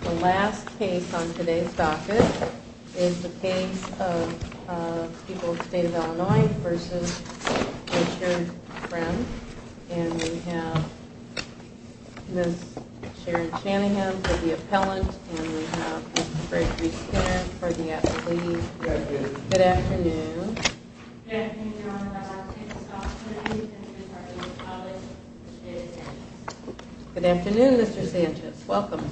The last case on today's docket is the case of People of the State of Illinois v. Richard Friend. And we have Ms. Sharon Shanahan for the appellant, and we have Mr. Gregory Skinner for the athlete. Good afternoon. Good afternoon. Good afternoon, Mr. Sanchez. Welcome.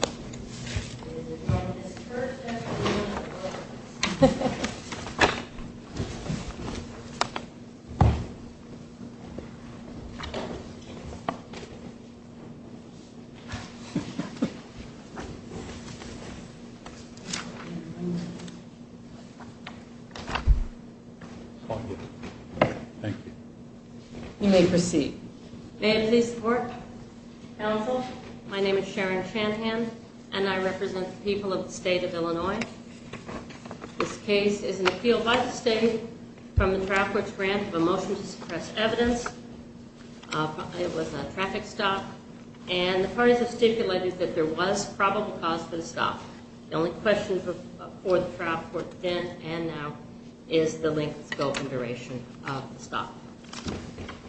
Thank you. You may proceed.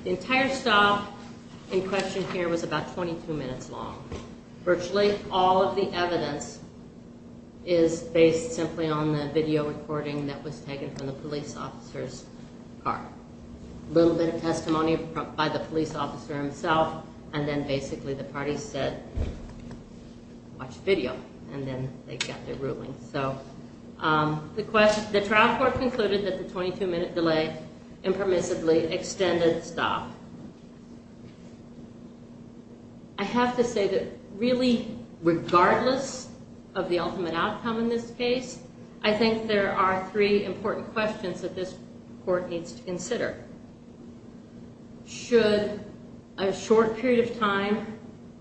The entire stop in question here was about 22 minutes long. Virtually all of the evidence is based simply on the video recording that was taken from the police officer's car. A little bit of testimony by the police officer himself, and then basically the parties said, watch video, and then they got their ruling. So the trial court concluded that the 22-minute delay impermissibly extended the stop. I have to say that really regardless of the ultimate outcome in this case, I think there are three important questions that this court needs to consider. First, should a short period of time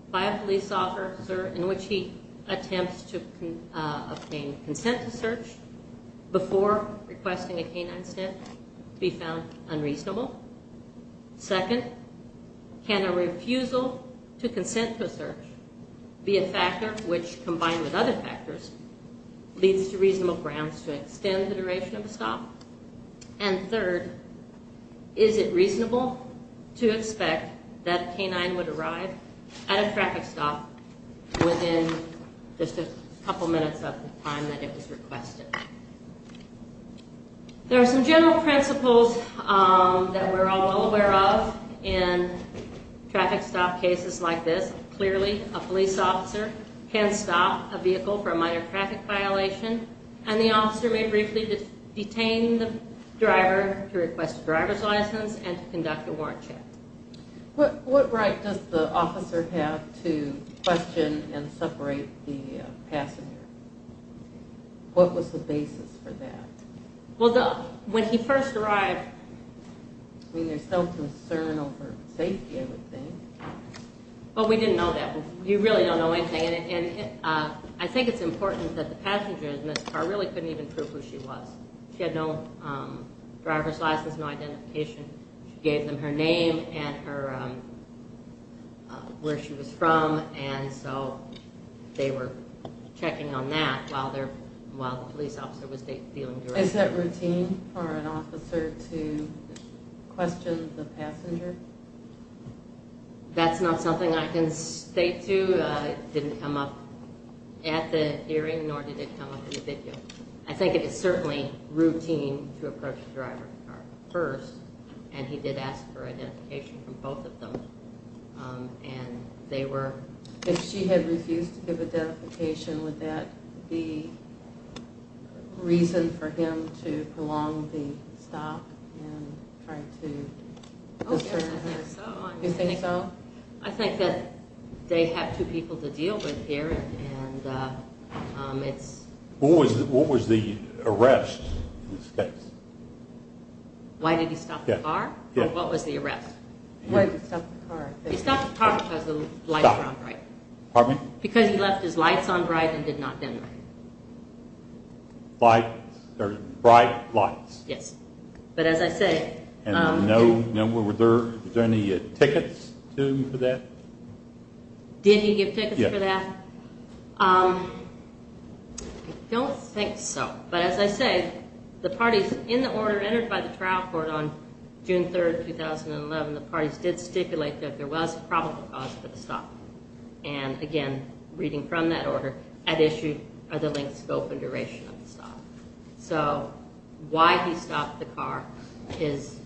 by a police officer in which he attempts to obtain consent to search before requesting a canine sniff be found unreasonable? Second, can a refusal to consent to a search be a factor which, combined with other factors, leads to reasonable grounds to extend the duration of a stop? And third, is it reasonable to expect that a canine would arrive at a traffic stop within just a couple minutes of the time that it was requested? There are some general principles that we're all aware of in traffic stop cases like this. Clearly, a police officer can stop a vehicle for a minor traffic violation, and the officer may briefly detain the driver to request a driver's license and to conduct a warrant check. What right does the officer have to question and separate the passenger? What was the basis for that? Well, when he first arrived, I mean, there's no concern over safety, I would think. Well, we didn't know that. We really don't know anything, and I think it's important that the passenger in this car really couldn't even prove who she was. She had no driver's license, no identification. She gave them her name and where she was from, and so they were checking on that while the police officer was dealing directly with her. Is that routine for an officer to question the passenger? That's not something I can state, too. It didn't come up at the hearing, nor did it come up in the video. I think it is certainly routine to approach the driver first, and he did ask for identification from both of them, and they were... Would that be reason for him to prolong the stop and try to... I don't think so. You think so? I think that they have two people to deal with here, and it's... What was the arrest in this case? Why did he stop the car? What was the arrest? Why did he stop the car? He stopped the car because the lights were on, right? Stop. Pardon me? Because he left his lights on bright and did not dim them. Lights, or bright lights. Yes. But as I say... And were there any tickets to him for that? Did he give tickets for that? Yes. I don't think so, but as I say, the parties in the order entered by the trial court on June 3, 2011, the parties did stipulate that there was a probable cause for the stop. And again, reading from that order, at issue are the length, scope, and duration of the stop. So why he stopped the car is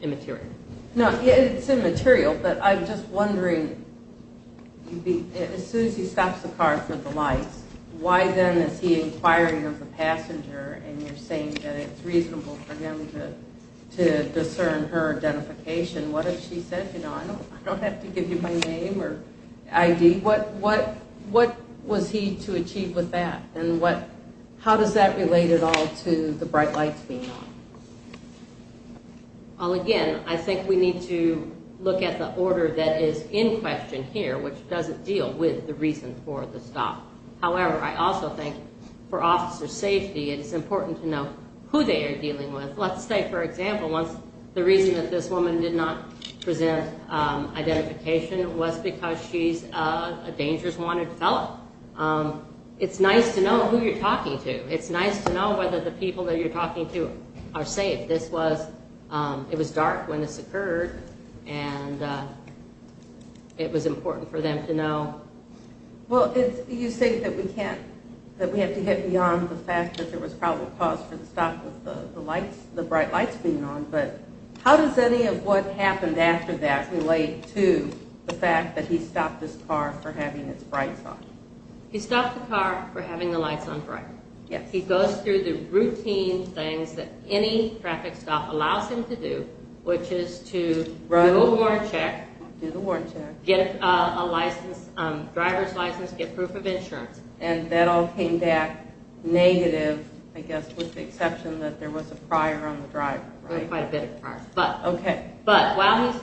immaterial. No, it's immaterial, but I'm just wondering, as soon as he stops the car for the lights, why then is he inquiring of the passenger, and you're saying that it's reasonable for him to discern her identification. What if she said, you know, I don't have to give you my name or ID. What was he to achieve with that, and how does that relate at all to the bright lights being on? Well, again, I think we need to look at the order that is in question here, which doesn't deal with the reason for the stop. However, I also think for officer safety, it's important to know who they are dealing with. Let's say, for example, the reason that this woman did not present identification was because she's a dangerous wanted fellow. It's nice to know who you're talking to. It's nice to know whether the people that you're talking to are safe. It was dark when this occurred, and it was important for them to know. Well, you say that we have to get beyond the fact that there was probable cause for the stop of the bright lights being on, but how does any of what happened after that relate to the fact that he stopped his car for having its brights on? He stopped the car for having the lights on bright. He goes through the routine things that any traffic stop allows him to do, which is to do a warrant check, get a driver's license, get proof of insurance. And that all came back negative, I guess, with the exception that there was a prior on the driver, right? There was quite a bit of prior. Okay. But while he's…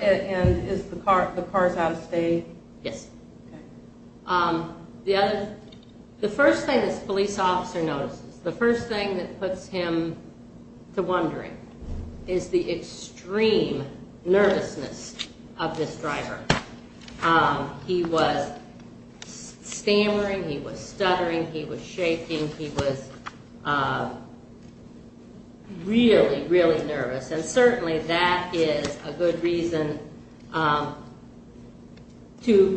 And is the car out of state? Yes. Okay. The first thing this police officer notices, the first thing that puts him to wondering is the extreme nervousness of this driver. He was stammering. He was stuttering. He was shaking. He was really, really nervous. And certainly that is a good reason to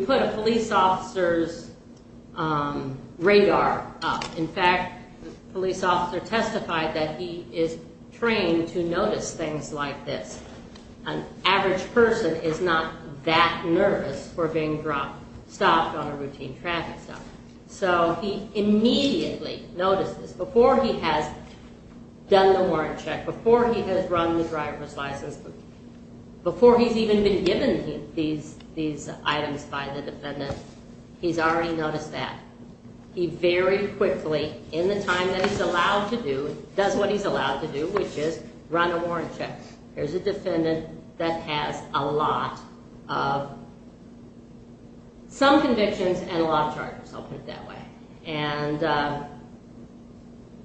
put a police officer's radar up. In fact, the police officer testified that he is trained to notice things like this. An average person is not that nervous for being stopped on a routine traffic stop. So he immediately notices, before he has done the warrant check, before he has run the driver's license, before he's even been given these items by the defendant, he's already noticed that. He very quickly, in the time that he's allowed to do, does what he's allowed to do, which is run a warrant check. Here's a defendant that has a lot of, some convictions and a lot of charges. I'll put it that way. And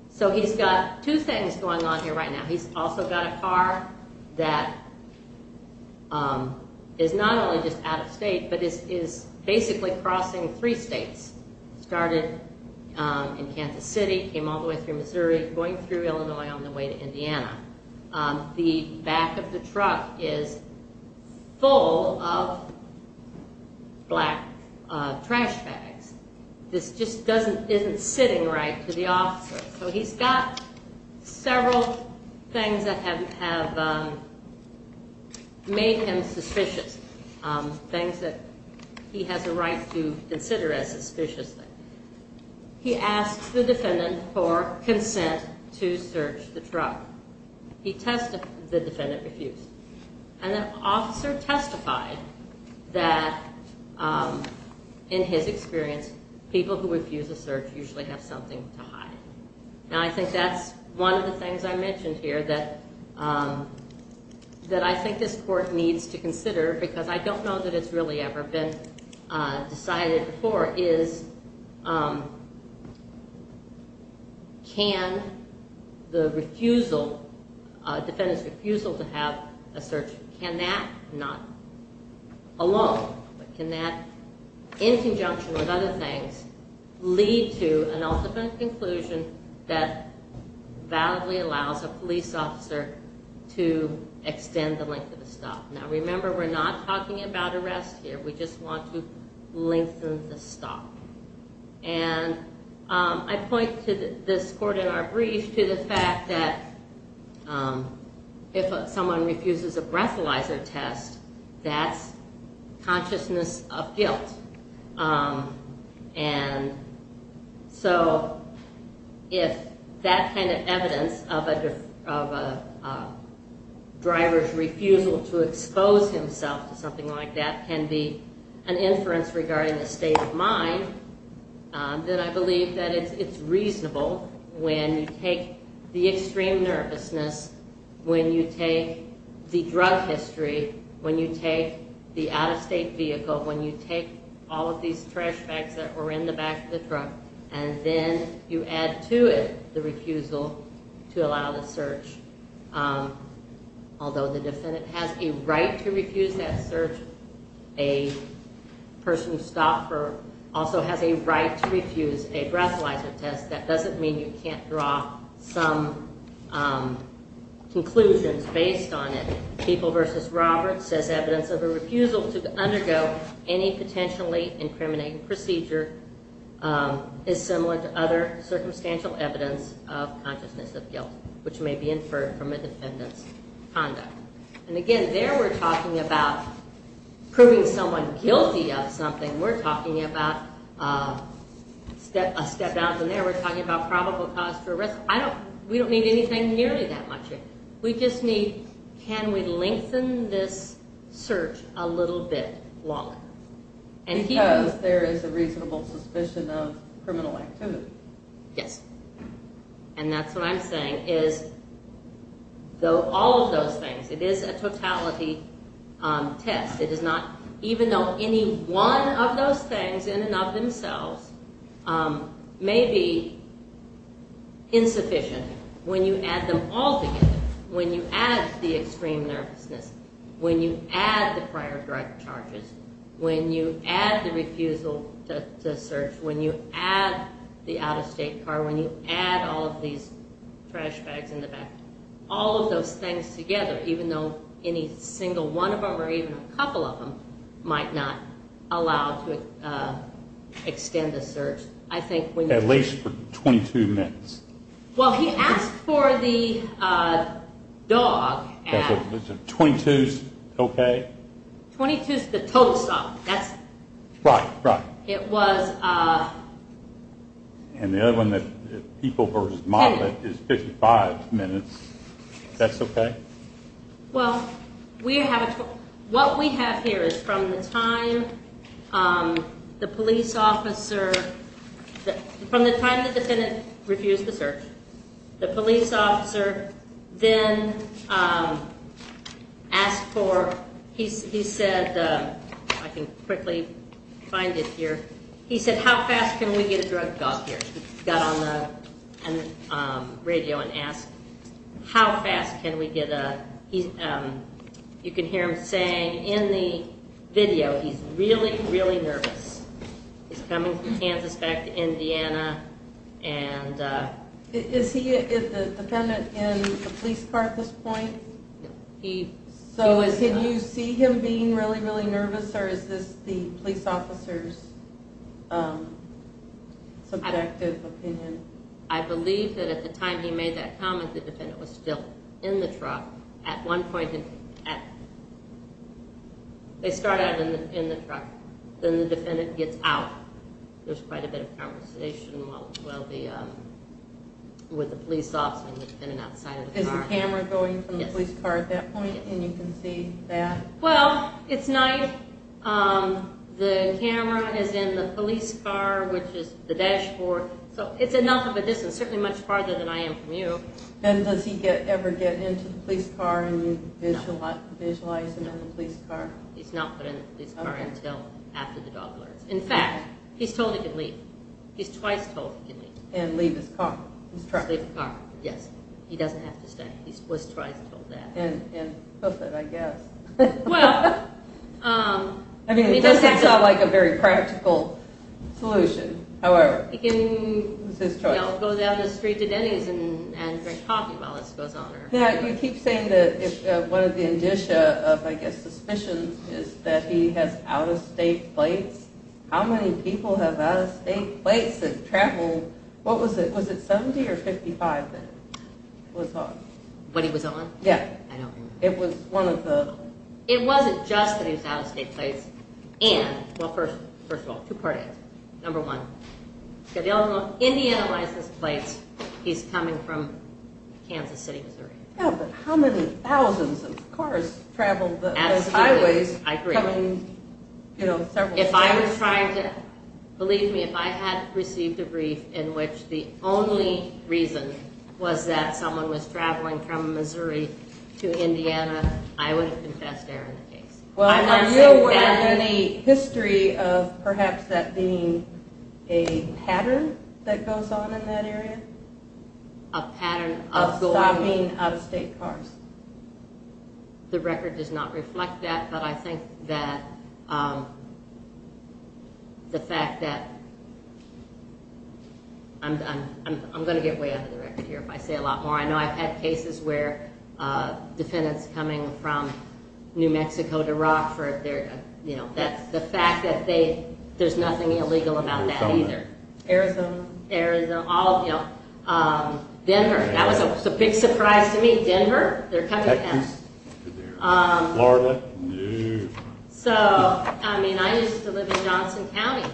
so he's got two things going on here right now. He's also got a car that is not only just out of state, but is basically crossing three states. Started in Kansas City, came all the way through Missouri, going through Illinois on the way to Indiana. The back of the truck is full of black trash bags. This just isn't sitting right to the officer. So he's got several things that have made him suspicious, things that he has a right to consider as suspicious. He asks the defendant for consent to search the truck. The defendant refused. And the officer testified that, in his experience, people who refuse a search usually have something to hide. And I think that's one of the things I mentioned here that I think this court needs to consider, because I don't know that it's really ever been decided before, is can the refusal, defendant's refusal to have a search, can that, not alone, but can that, in conjunction with other things, lead to an ultimate conclusion that validly allows a police officer to extend the length of the stop. Now, remember, we're not talking about arrest here. We just want to lengthen the stop. And I point to this court in our brief to the fact that if someone refuses a breathalyzer test, that's consciousness of guilt. And so if that kind of evidence of a driver's refusal to expose himself to something like that can be an inference regarding the state of mind, then I believe that it's reasonable when you take the extreme nervousness, when you take the drug history, when you take the out-of-state vehicle, when you take all of these trash bags that were in the back of the truck, and then you add to it the refusal to allow the search. Although the defendant has a right to refuse that search, a person who stopped also has a right to refuse a breathalyzer test. That doesn't mean you can't draw some conclusions based on it. People v. Roberts says evidence of a refusal to undergo any potentially incriminating procedure is similar to other circumstantial evidence of consciousness of guilt, which may be inferred from a defendant's conduct. And again, there we're talking about proving someone guilty of something. We're talking about a step down from there. We're talking about probable cause for arrest. We don't need anything nearly that much. We just need, can we lengthen this search a little bit longer? Because there is a reasonable suspicion of criminal activity. Yes. And that's what I'm saying, is all of those things, it is a totality test. It is not, even though any one of those things in and of themselves may be insufficient, when you add them all together, when you add the extreme nervousness, when you add the prior drug charges, when you add the refusal to search, when you add the out-of-state car, when you add all of these trash bags in the back, when you add all of those things together, even though any single one of them, or even a couple of them, might not allow to extend the search. At least for 22 minutes. Well, he asked for the dog. 22 is okay? 22 is the total time. Right, right. And the other one that people versus model it is 55 minutes. That's okay? Well, what we have here is from the time the police officer, from the time the defendant refused the search, the police officer then asked for, he said, I can quickly find it here, he said, how fast can we get a drug dog here? He got on the radio and asked, how fast can we get a, you can hear him saying in the video, he's really, really nervous. He's coming from Kansas back to Indiana. Is the defendant in the police car at this point? No. So did you see him being really, really nervous, or is this the police officer's subjective opinion? I believe that at the time he made that comment, the defendant was still in the truck. At one point, they start out in the truck. Then the defendant gets out. There's quite a bit of conversation with the police officer and the defendant outside of the car. Is the camera going from the police car at that point, and you can see that? Well, it's night. The camera is in the police car, which is the dashboard. So it's enough of a distance, certainly much farther than I am from you. And does he ever get into the police car and you visualize him in the police car? He's not put in the police car until after the dog learns. In fact, he's told he can leave. And leave his car, his truck? Leave his car, yes. He doesn't have to stay. He was twice told that. And hoof it, I guess. I mean, it doesn't sound like a very practical solution. However, it was his choice. He can go down the street to Denny's and drink coffee while this goes on. You keep saying that one of the indicia of, I guess, suspicions is that he has out-of-state plates. How many people have out-of-state plates that travel? What was it? Was it 70 or 55 that was on? What he was on? Yeah. I don't remember. It was one of the... It wasn't just that he was out-of-state plates. And, well, first of all, two part answers. Number one, he's got the Illinois, Indiana license plates. He's coming from Kansas City, Missouri. Yeah, but how many thousands of cars travel those highways? Absolutely, I agree. Coming, you know, several... If I was trying to... Believe me, if I had received a brief in which the only reason was that someone was traveling from Missouri to Indiana, I would have confessed there in the case. Well, are you aware of any history of perhaps that being a pattern that goes on in that area? A pattern of going... Of stopping out-of-state cars. The record does not reflect that, but I think that the fact that... I'm going to get way under the record here if I say a lot more. I know I've had cases where defendants coming from New Mexico to Rockford, you know, the fact that there's nothing illegal about that either. Arizona. Arizona. All, you know... Denver. That was a big surprise to me. Denver. They're coming down. Texas. Florida. New... So, I mean, I used to live in Johnson County,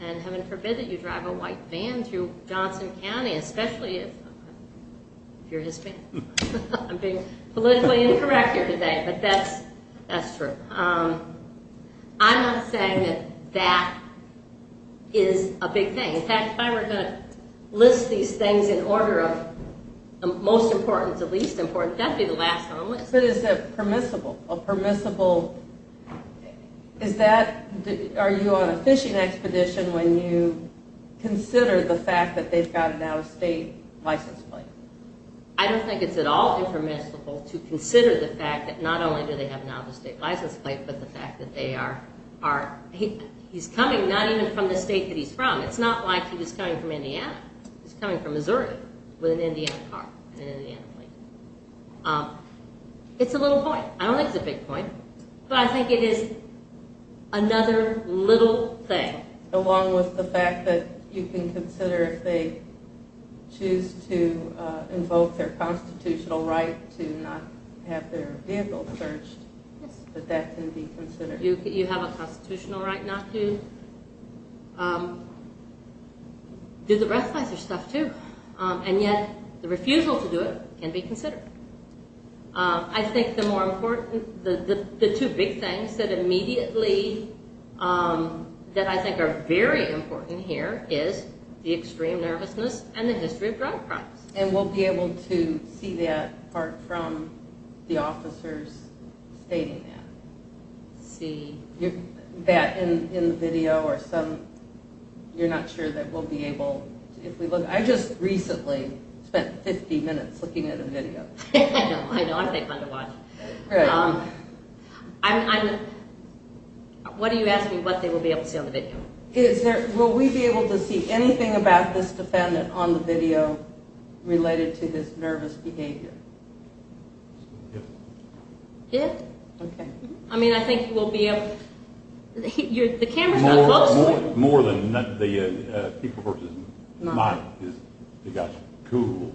and heaven forbid that you drive a white van through Johnson County, especially if you're Hispanic. I'm being politically incorrect here today, but that's true. I'm not saying that that is a big thing. In fact, if I were going to list these things in order of most important to least important, that would be the last on the list. But is it permissible? A permissible... Is that... Are you on a fishing expedition when you consider the fact that they've got an out-of-state license plate? I don't think it's at all impermissible to consider the fact that not only do they have an out-of-state license plate, but the fact that they are... He's coming not even from the state that he's from. It's not like he was coming from Indiana. He's coming from Missouri with an Indiana car and an Indiana plate. It's a little point. I don't think it's a big point, but I think it is another little thing. Along with the fact that you can consider if they choose to invoke their constitutional right to not have their vehicle searched, that that can be considered. You have a constitutional right not to do the rest of your stuff, too. And yet the refusal to do it can be considered. I think the two big things that immediately that I think are very important here is the extreme nervousness and the history of drug crimes. And we'll be able to see that apart from the officers stating that. That in the video or some... You're not sure that we'll be able... I just recently spent 50 minutes looking at a video. I know, aren't they fun to watch? What are you asking what they will be able to see on the video? Will we be able to see anything about this defendant on the video related to his nervous behavior? Yes. Yes? Okay. I mean, I think you will be able... The camera's really close. More than the people who are just mine. They got you. Cool.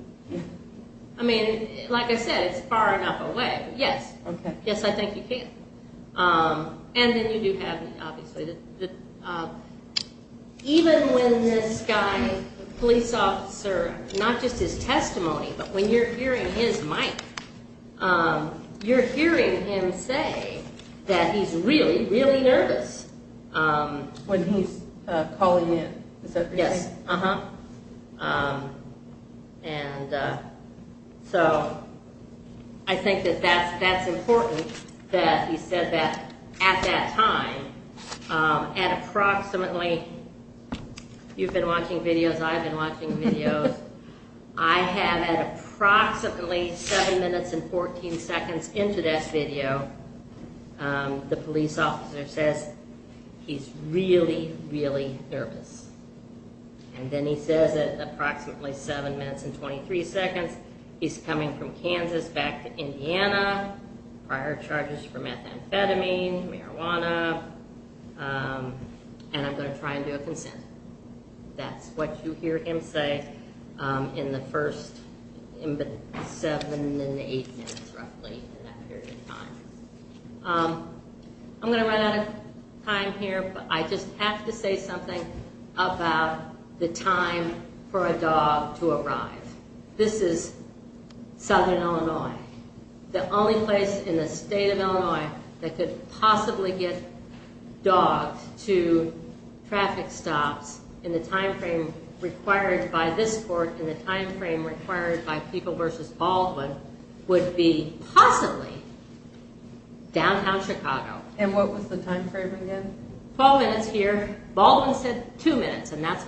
I mean, like I said, it's far enough away. Yes. Yes, I think you can. And then you do have, obviously, even when this guy, police officer, not just his testimony, but when you're hearing his mic, you're hearing him say that he's really, really nervous. When he's calling in. Yes. Uh-huh. And so I think that that's important that he said that at that time at approximately... You've been watching videos. I've been watching videos. I have at approximately 7 minutes and 14 seconds into this video, the police officer says he's really, really nervous. And then he says at approximately 7 minutes and 23 seconds, he's coming from Kansas back to Indiana. Prior charges for methamphetamine, marijuana. And I'm going to try and do a consent. That's what you hear him say in the first 7 and 8 minutes, roughly, in that period of time. I'm going to run out of time here, but I just have to say something about the time for a dog to arrive. This is Southern Illinois. The only place in the state of Illinois that could possibly get dogs to traffic stops in the time frame required by this court, in the time frame required by People v. Baldwin, would be possibly downtown Chicago. And what was the time frame again? 12 minutes here. Baldwin said 2 minutes, was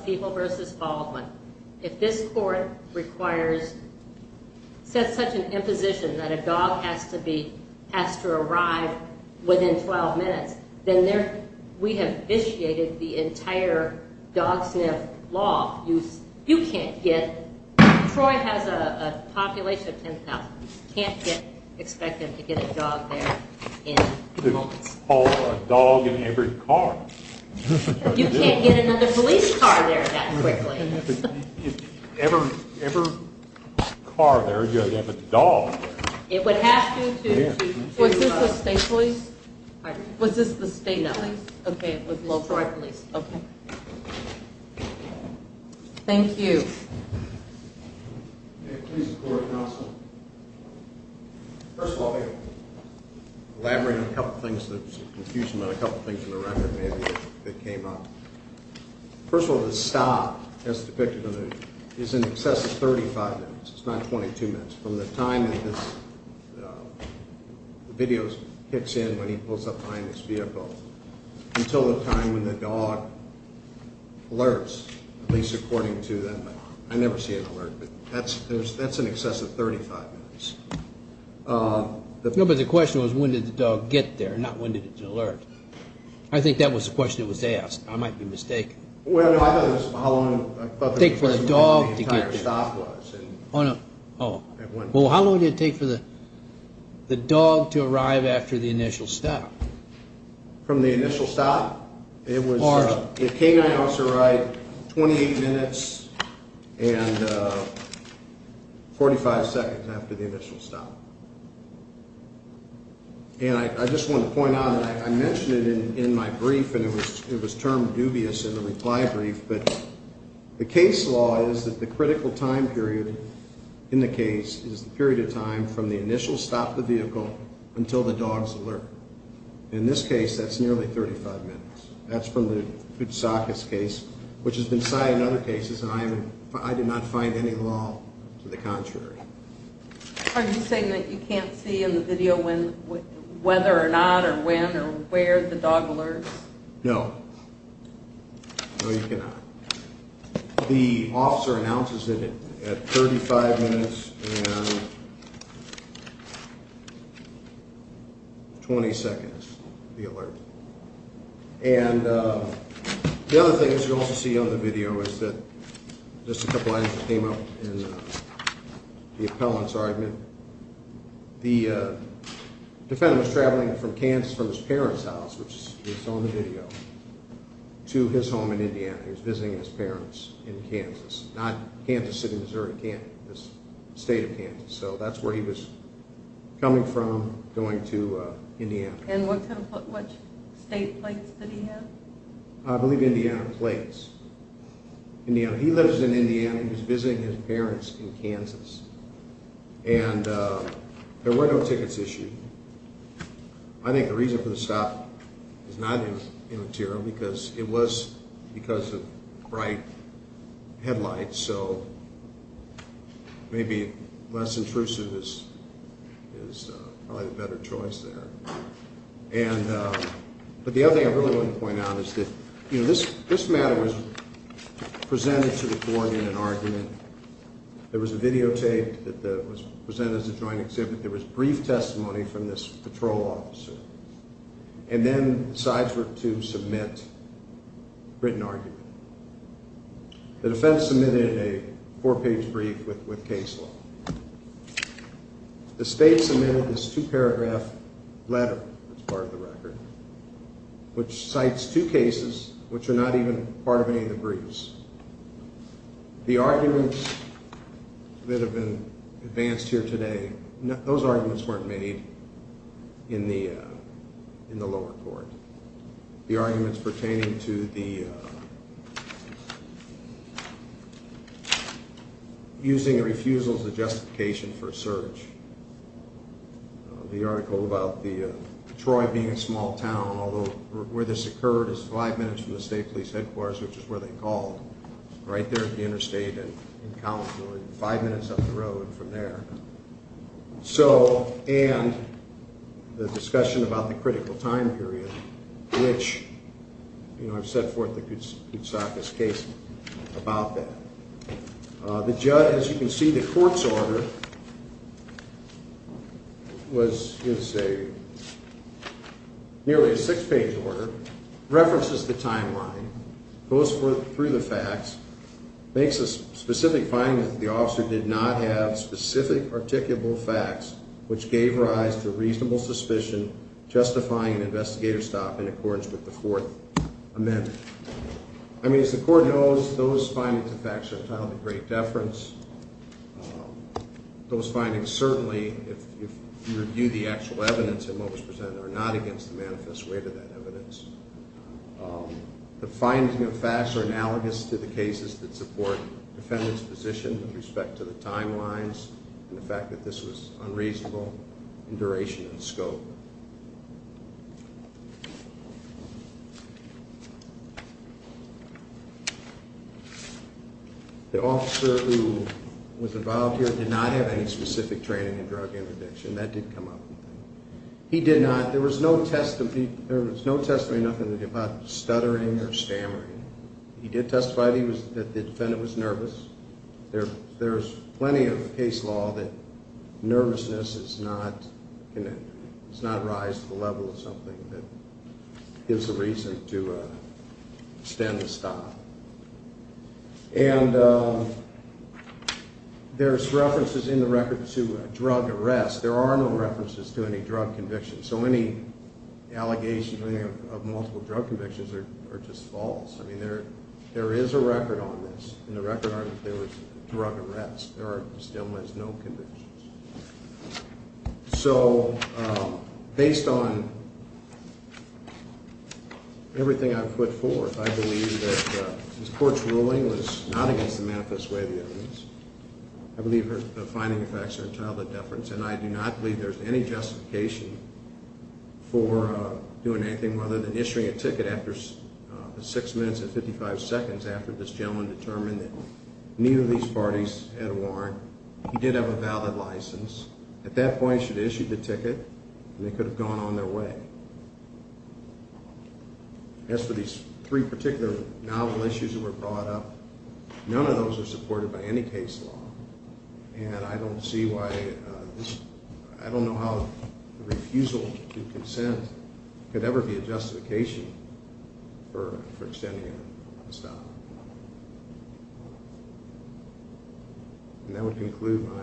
People v. Baldwin. If this court requires, sets such an imposition that a dog has to be, has to arrive within 12 minutes, then we have vitiated the entire dog sniff law. You can't get, Troy has a population of 10,000. You can't get, expect them to get a dog there in moments. Call a dog in every car. You can't get another police car there that quickly. Every car there, you have to have a dog there. It would have to. Was this the state police? Was this the state police? Police. Okay, it was local police. Thank you. May it please the Court of Counsel. First of all, I'm going to elaborate on a couple of things that are confusing, and a couple of things in the record maybe that came up. First of all, the stop, as depicted on the, is in excess of 35 minutes. It's not 22 minutes. From the time that this video kicks in, when he pulls up behind this vehicle, until the time when the dog alerts, at least according to them. I never see an alert, but that's in excess of 35 minutes. No, but the question was when did the dog get there, not when did it alert. I think that was the question that was asked. I might be mistaken. Well, I thought it was how long, I thought the question was when the entire stop was. Oh, no. Oh. Well, how long did it take for the dog to arrive after the initial stop? From the initial stop? It was, the canine officer arrived 28 minutes and 45 seconds after the initial stop. And I just want to point out that I mentioned it in my brief, and it was termed dubious in the reply brief, but the case law is that the critical time period in the case is the period of time from the initial stop of the vehicle until the dog's alert. In this case, that's nearly 35 minutes. That's from the Koutsakis case, which has been cited in other cases, and I did not find any law to the contrary. Are you saying that you can't see in the video whether or not or when or where the dog alerts? No. No, you cannot. The officer announces it at 35 minutes and 20 seconds, the alert. And the other thing that you'll also see on the video is that the defendant was traveling from Kansas, from his parents' house, which you saw in the video, to his home in Indiana. He was visiting his parents in Kansas, not Kansas City, Missouri, Kansas, the state of Kansas. So that's where he was coming from, going to Indiana. And what state place did he have? I believe Indiana plates. He lives in Indiana. He was visiting his parents in Kansas. And there were no tickets issued. I think the reason for the stop is not in the material because it was because of bright headlights, so maybe less intrusive is probably the better choice there. But the other thing I really want to point out is that this matter was presented to the court in an argument. There was a videotape that was presented as a joint exhibit. There was brief testimony from this patrol officer. And then the sides were to submit a written argument. The defense submitted a four-page brief with case law. The state submitted this two-paragraph letter, that's part of the record, which cites two cases which are not even part of any of the briefs. The arguments that have been advanced here today, those arguments weren't made in the lower court. The arguments pertaining to the using a refusal as a justification for a search. The article about Detroit being a small town, although where this occurred is five minutes from the state police headquarters, which is where they called. Right there at the interstate in Collinsville, five minutes up the road from there. And the discussion about the critical time period, which I've set forth the Koutsakis case about that. As you can see, the court's order is nearly a six-page order, references the timeline, goes through the facts, makes a specific finding that the officer did not have specific articulable facts, which gave rise to reasonable suspicion, justifying an investigator's stop in accordance with the Fourth Amendment. I mean, as the court knows, those findings and facts are entitled to great deference. Those findings certainly, if you review the actual evidence and what was presented, are not against the manifest rate of that evidence. The findings and facts are analogous to the cases that support the defendant's position with respect to the timelines and the fact that this was unreasonable in duration and scope. The officer who was involved here did not have any specific training in drug and addiction. That did come up. He did not. There was no testimony. There was no testimony, nothing about stuttering or stammering. He did testify that the defendant was nervous. There's plenty of case law that nervousness does not rise to the level of something that gives a reason to extend the stop. There's references in the record to drug arrests. There are no references to any drug convictions. So any allegation of multiple drug convictions are just false. I mean, there is a record on this. In the record, there was drug arrests. There still was no convictions. So, based on everything I've put forth, I believe that this court's ruling was not against the manifest rate of the evidence. I believe the findings and facts are entitled to deference, and I do not believe there's any justification for doing anything other than issuing a ticket six minutes and 55 seconds after this gentleman determined that neither of these parties had a warrant. He did have a valid license. At that point, he should have issued the ticket, and they could have gone on their way. As for these three particular novel issues that were brought up, none of those are supported by any case law, and I don't see why this... I don't know how the refusal to consent could ever be a justification for extending a stop. And that would conclude my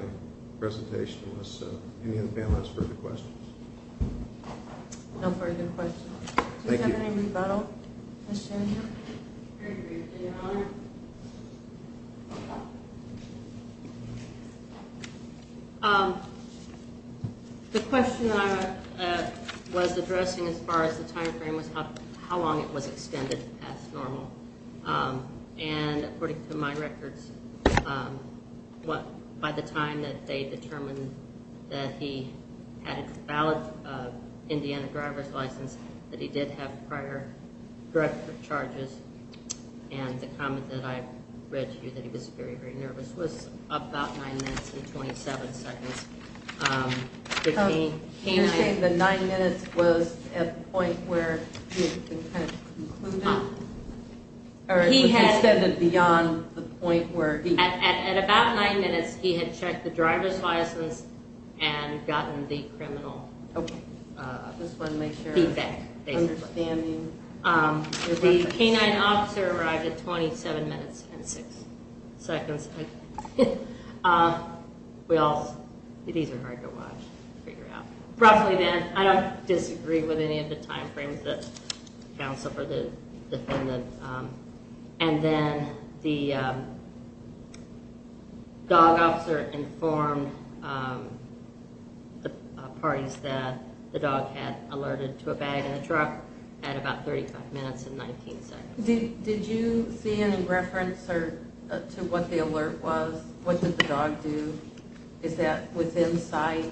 presentation. Unless any of the panelists have further questions. No further questions. Thank you. Does this have any rebuttal, Ms. Chandler? Very briefly, Your Honor. The question I was addressing as far as the time frame was how long it was extended past normal. And according to my records, by the time that they determined that he had a valid Indiana driver's license, that he did have prior drug charges, and the comment that I read to you that he was very, very nervous was about 9 minutes and 27 seconds. You're saying that 9 minutes was at the point where he had concluded? Or extended beyond the point where he... At about 9 minutes, he had checked the driver's license and gotten the criminal feedback, basically. The canine officer arrived at 27 minutes and 6 seconds. Well, these are hard to watch, to figure out. Roughly then, I don't disagree with any of the time frames that counsel for the defendant. And then the dog officer informed the parties that the dog had alerted to a bag in the truck at about 35 minutes and 19 seconds. Did you see any reference to what the alert was? What did the dog do? Is that within sight?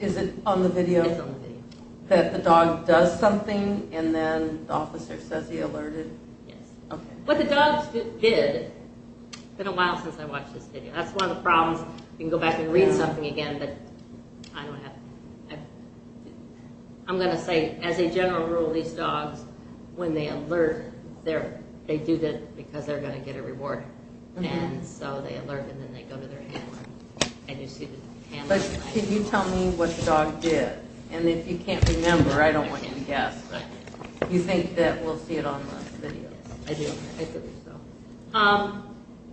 Is it on the video? It's on the video. That the dog does something, and then the officer says he alerted? Yes. What the dog did... It's been a while since I watched this video. That's one of the problems. You can go back and read something again, but I don't have... I'm going to say, as a general rule, these dogs, when they alert, they do that because they're going to get a reward. And so they alert, and then they go to their hands. Can you tell me what the dog did? And if you can't remember, I don't want you to guess, but you think that we'll see it on the video. I do. I think so.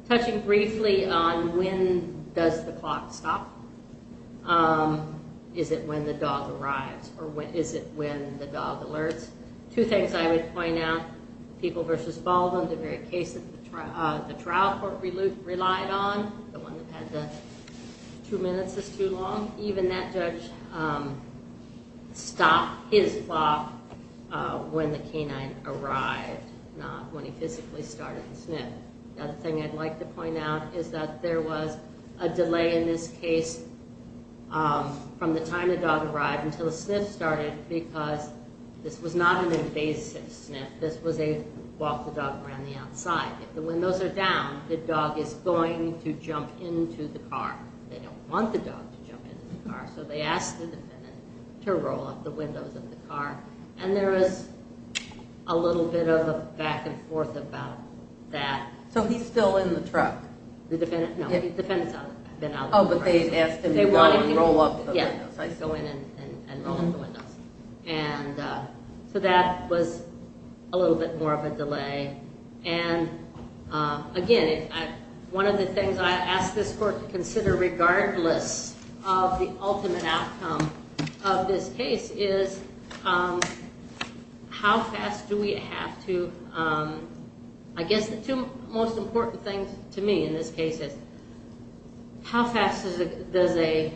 Touching briefly on when does the clock stop. Is it when the dog arrives, or is it when the dog alerts? Two things I would point out. People v. Baldwin, the very case that the trial court relied on, the one that had the two minutes is too long, even that judge stopped his clock when the canine arrived, not when he physically started to sniff. The other thing I'd like to point out is that there was a delay in this case from the time the dog arrived until the sniff started because this was not an invasive sniff. This was a walk the dog around the outside. If the windows are down, the dog is going to jump into the car. They don't want the dog to jump into the car, so they ask the defendant to roll up the windows of the car, and there is a little bit of a back-and-forth about that. So he's still in the truck? No, the defendant's out. Oh, but they asked him to go and roll up the windows. Yes, to go in and roll up the windows. And so that was a little bit more of a delay. And, again, one of the things I ask this court to consider, regardless of the ultimate outcome of this case, is how fast do we have to— I guess the two most important things to me in this case is how fast does a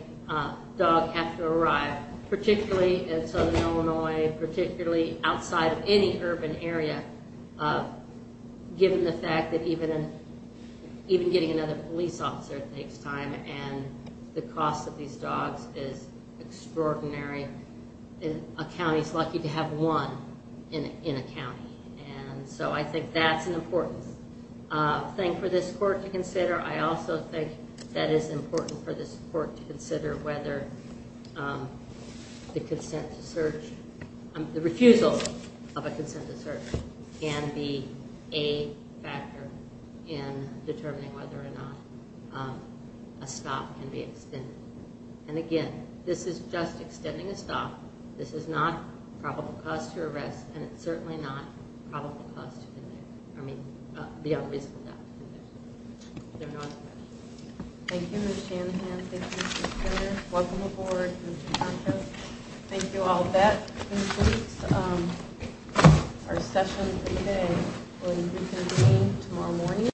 dog have to arrive, particularly in southern Illinois, particularly outside of any urban area, given the fact that even getting another police officer takes time and the cost of these dogs is extraordinary. A county is lucky to have one in a county, and so I think that's an important thing for this court to consider. I also think that it's important for this court to consider whether the refusal of a consent to search can be a factor in determining whether or not a stop can be extended. And, again, this is just extending a stop. This is not probable cause to arrest, and it's certainly not probable cause to be there. I mean, beyond reason not to be there. There are no other questions. Thank you, Ms. Shanahan. Thank you, Mr. Turner. Welcome aboard, Mr. Santos. Thank you all. That concludes our session for today. We will reconvene tomorrow morning.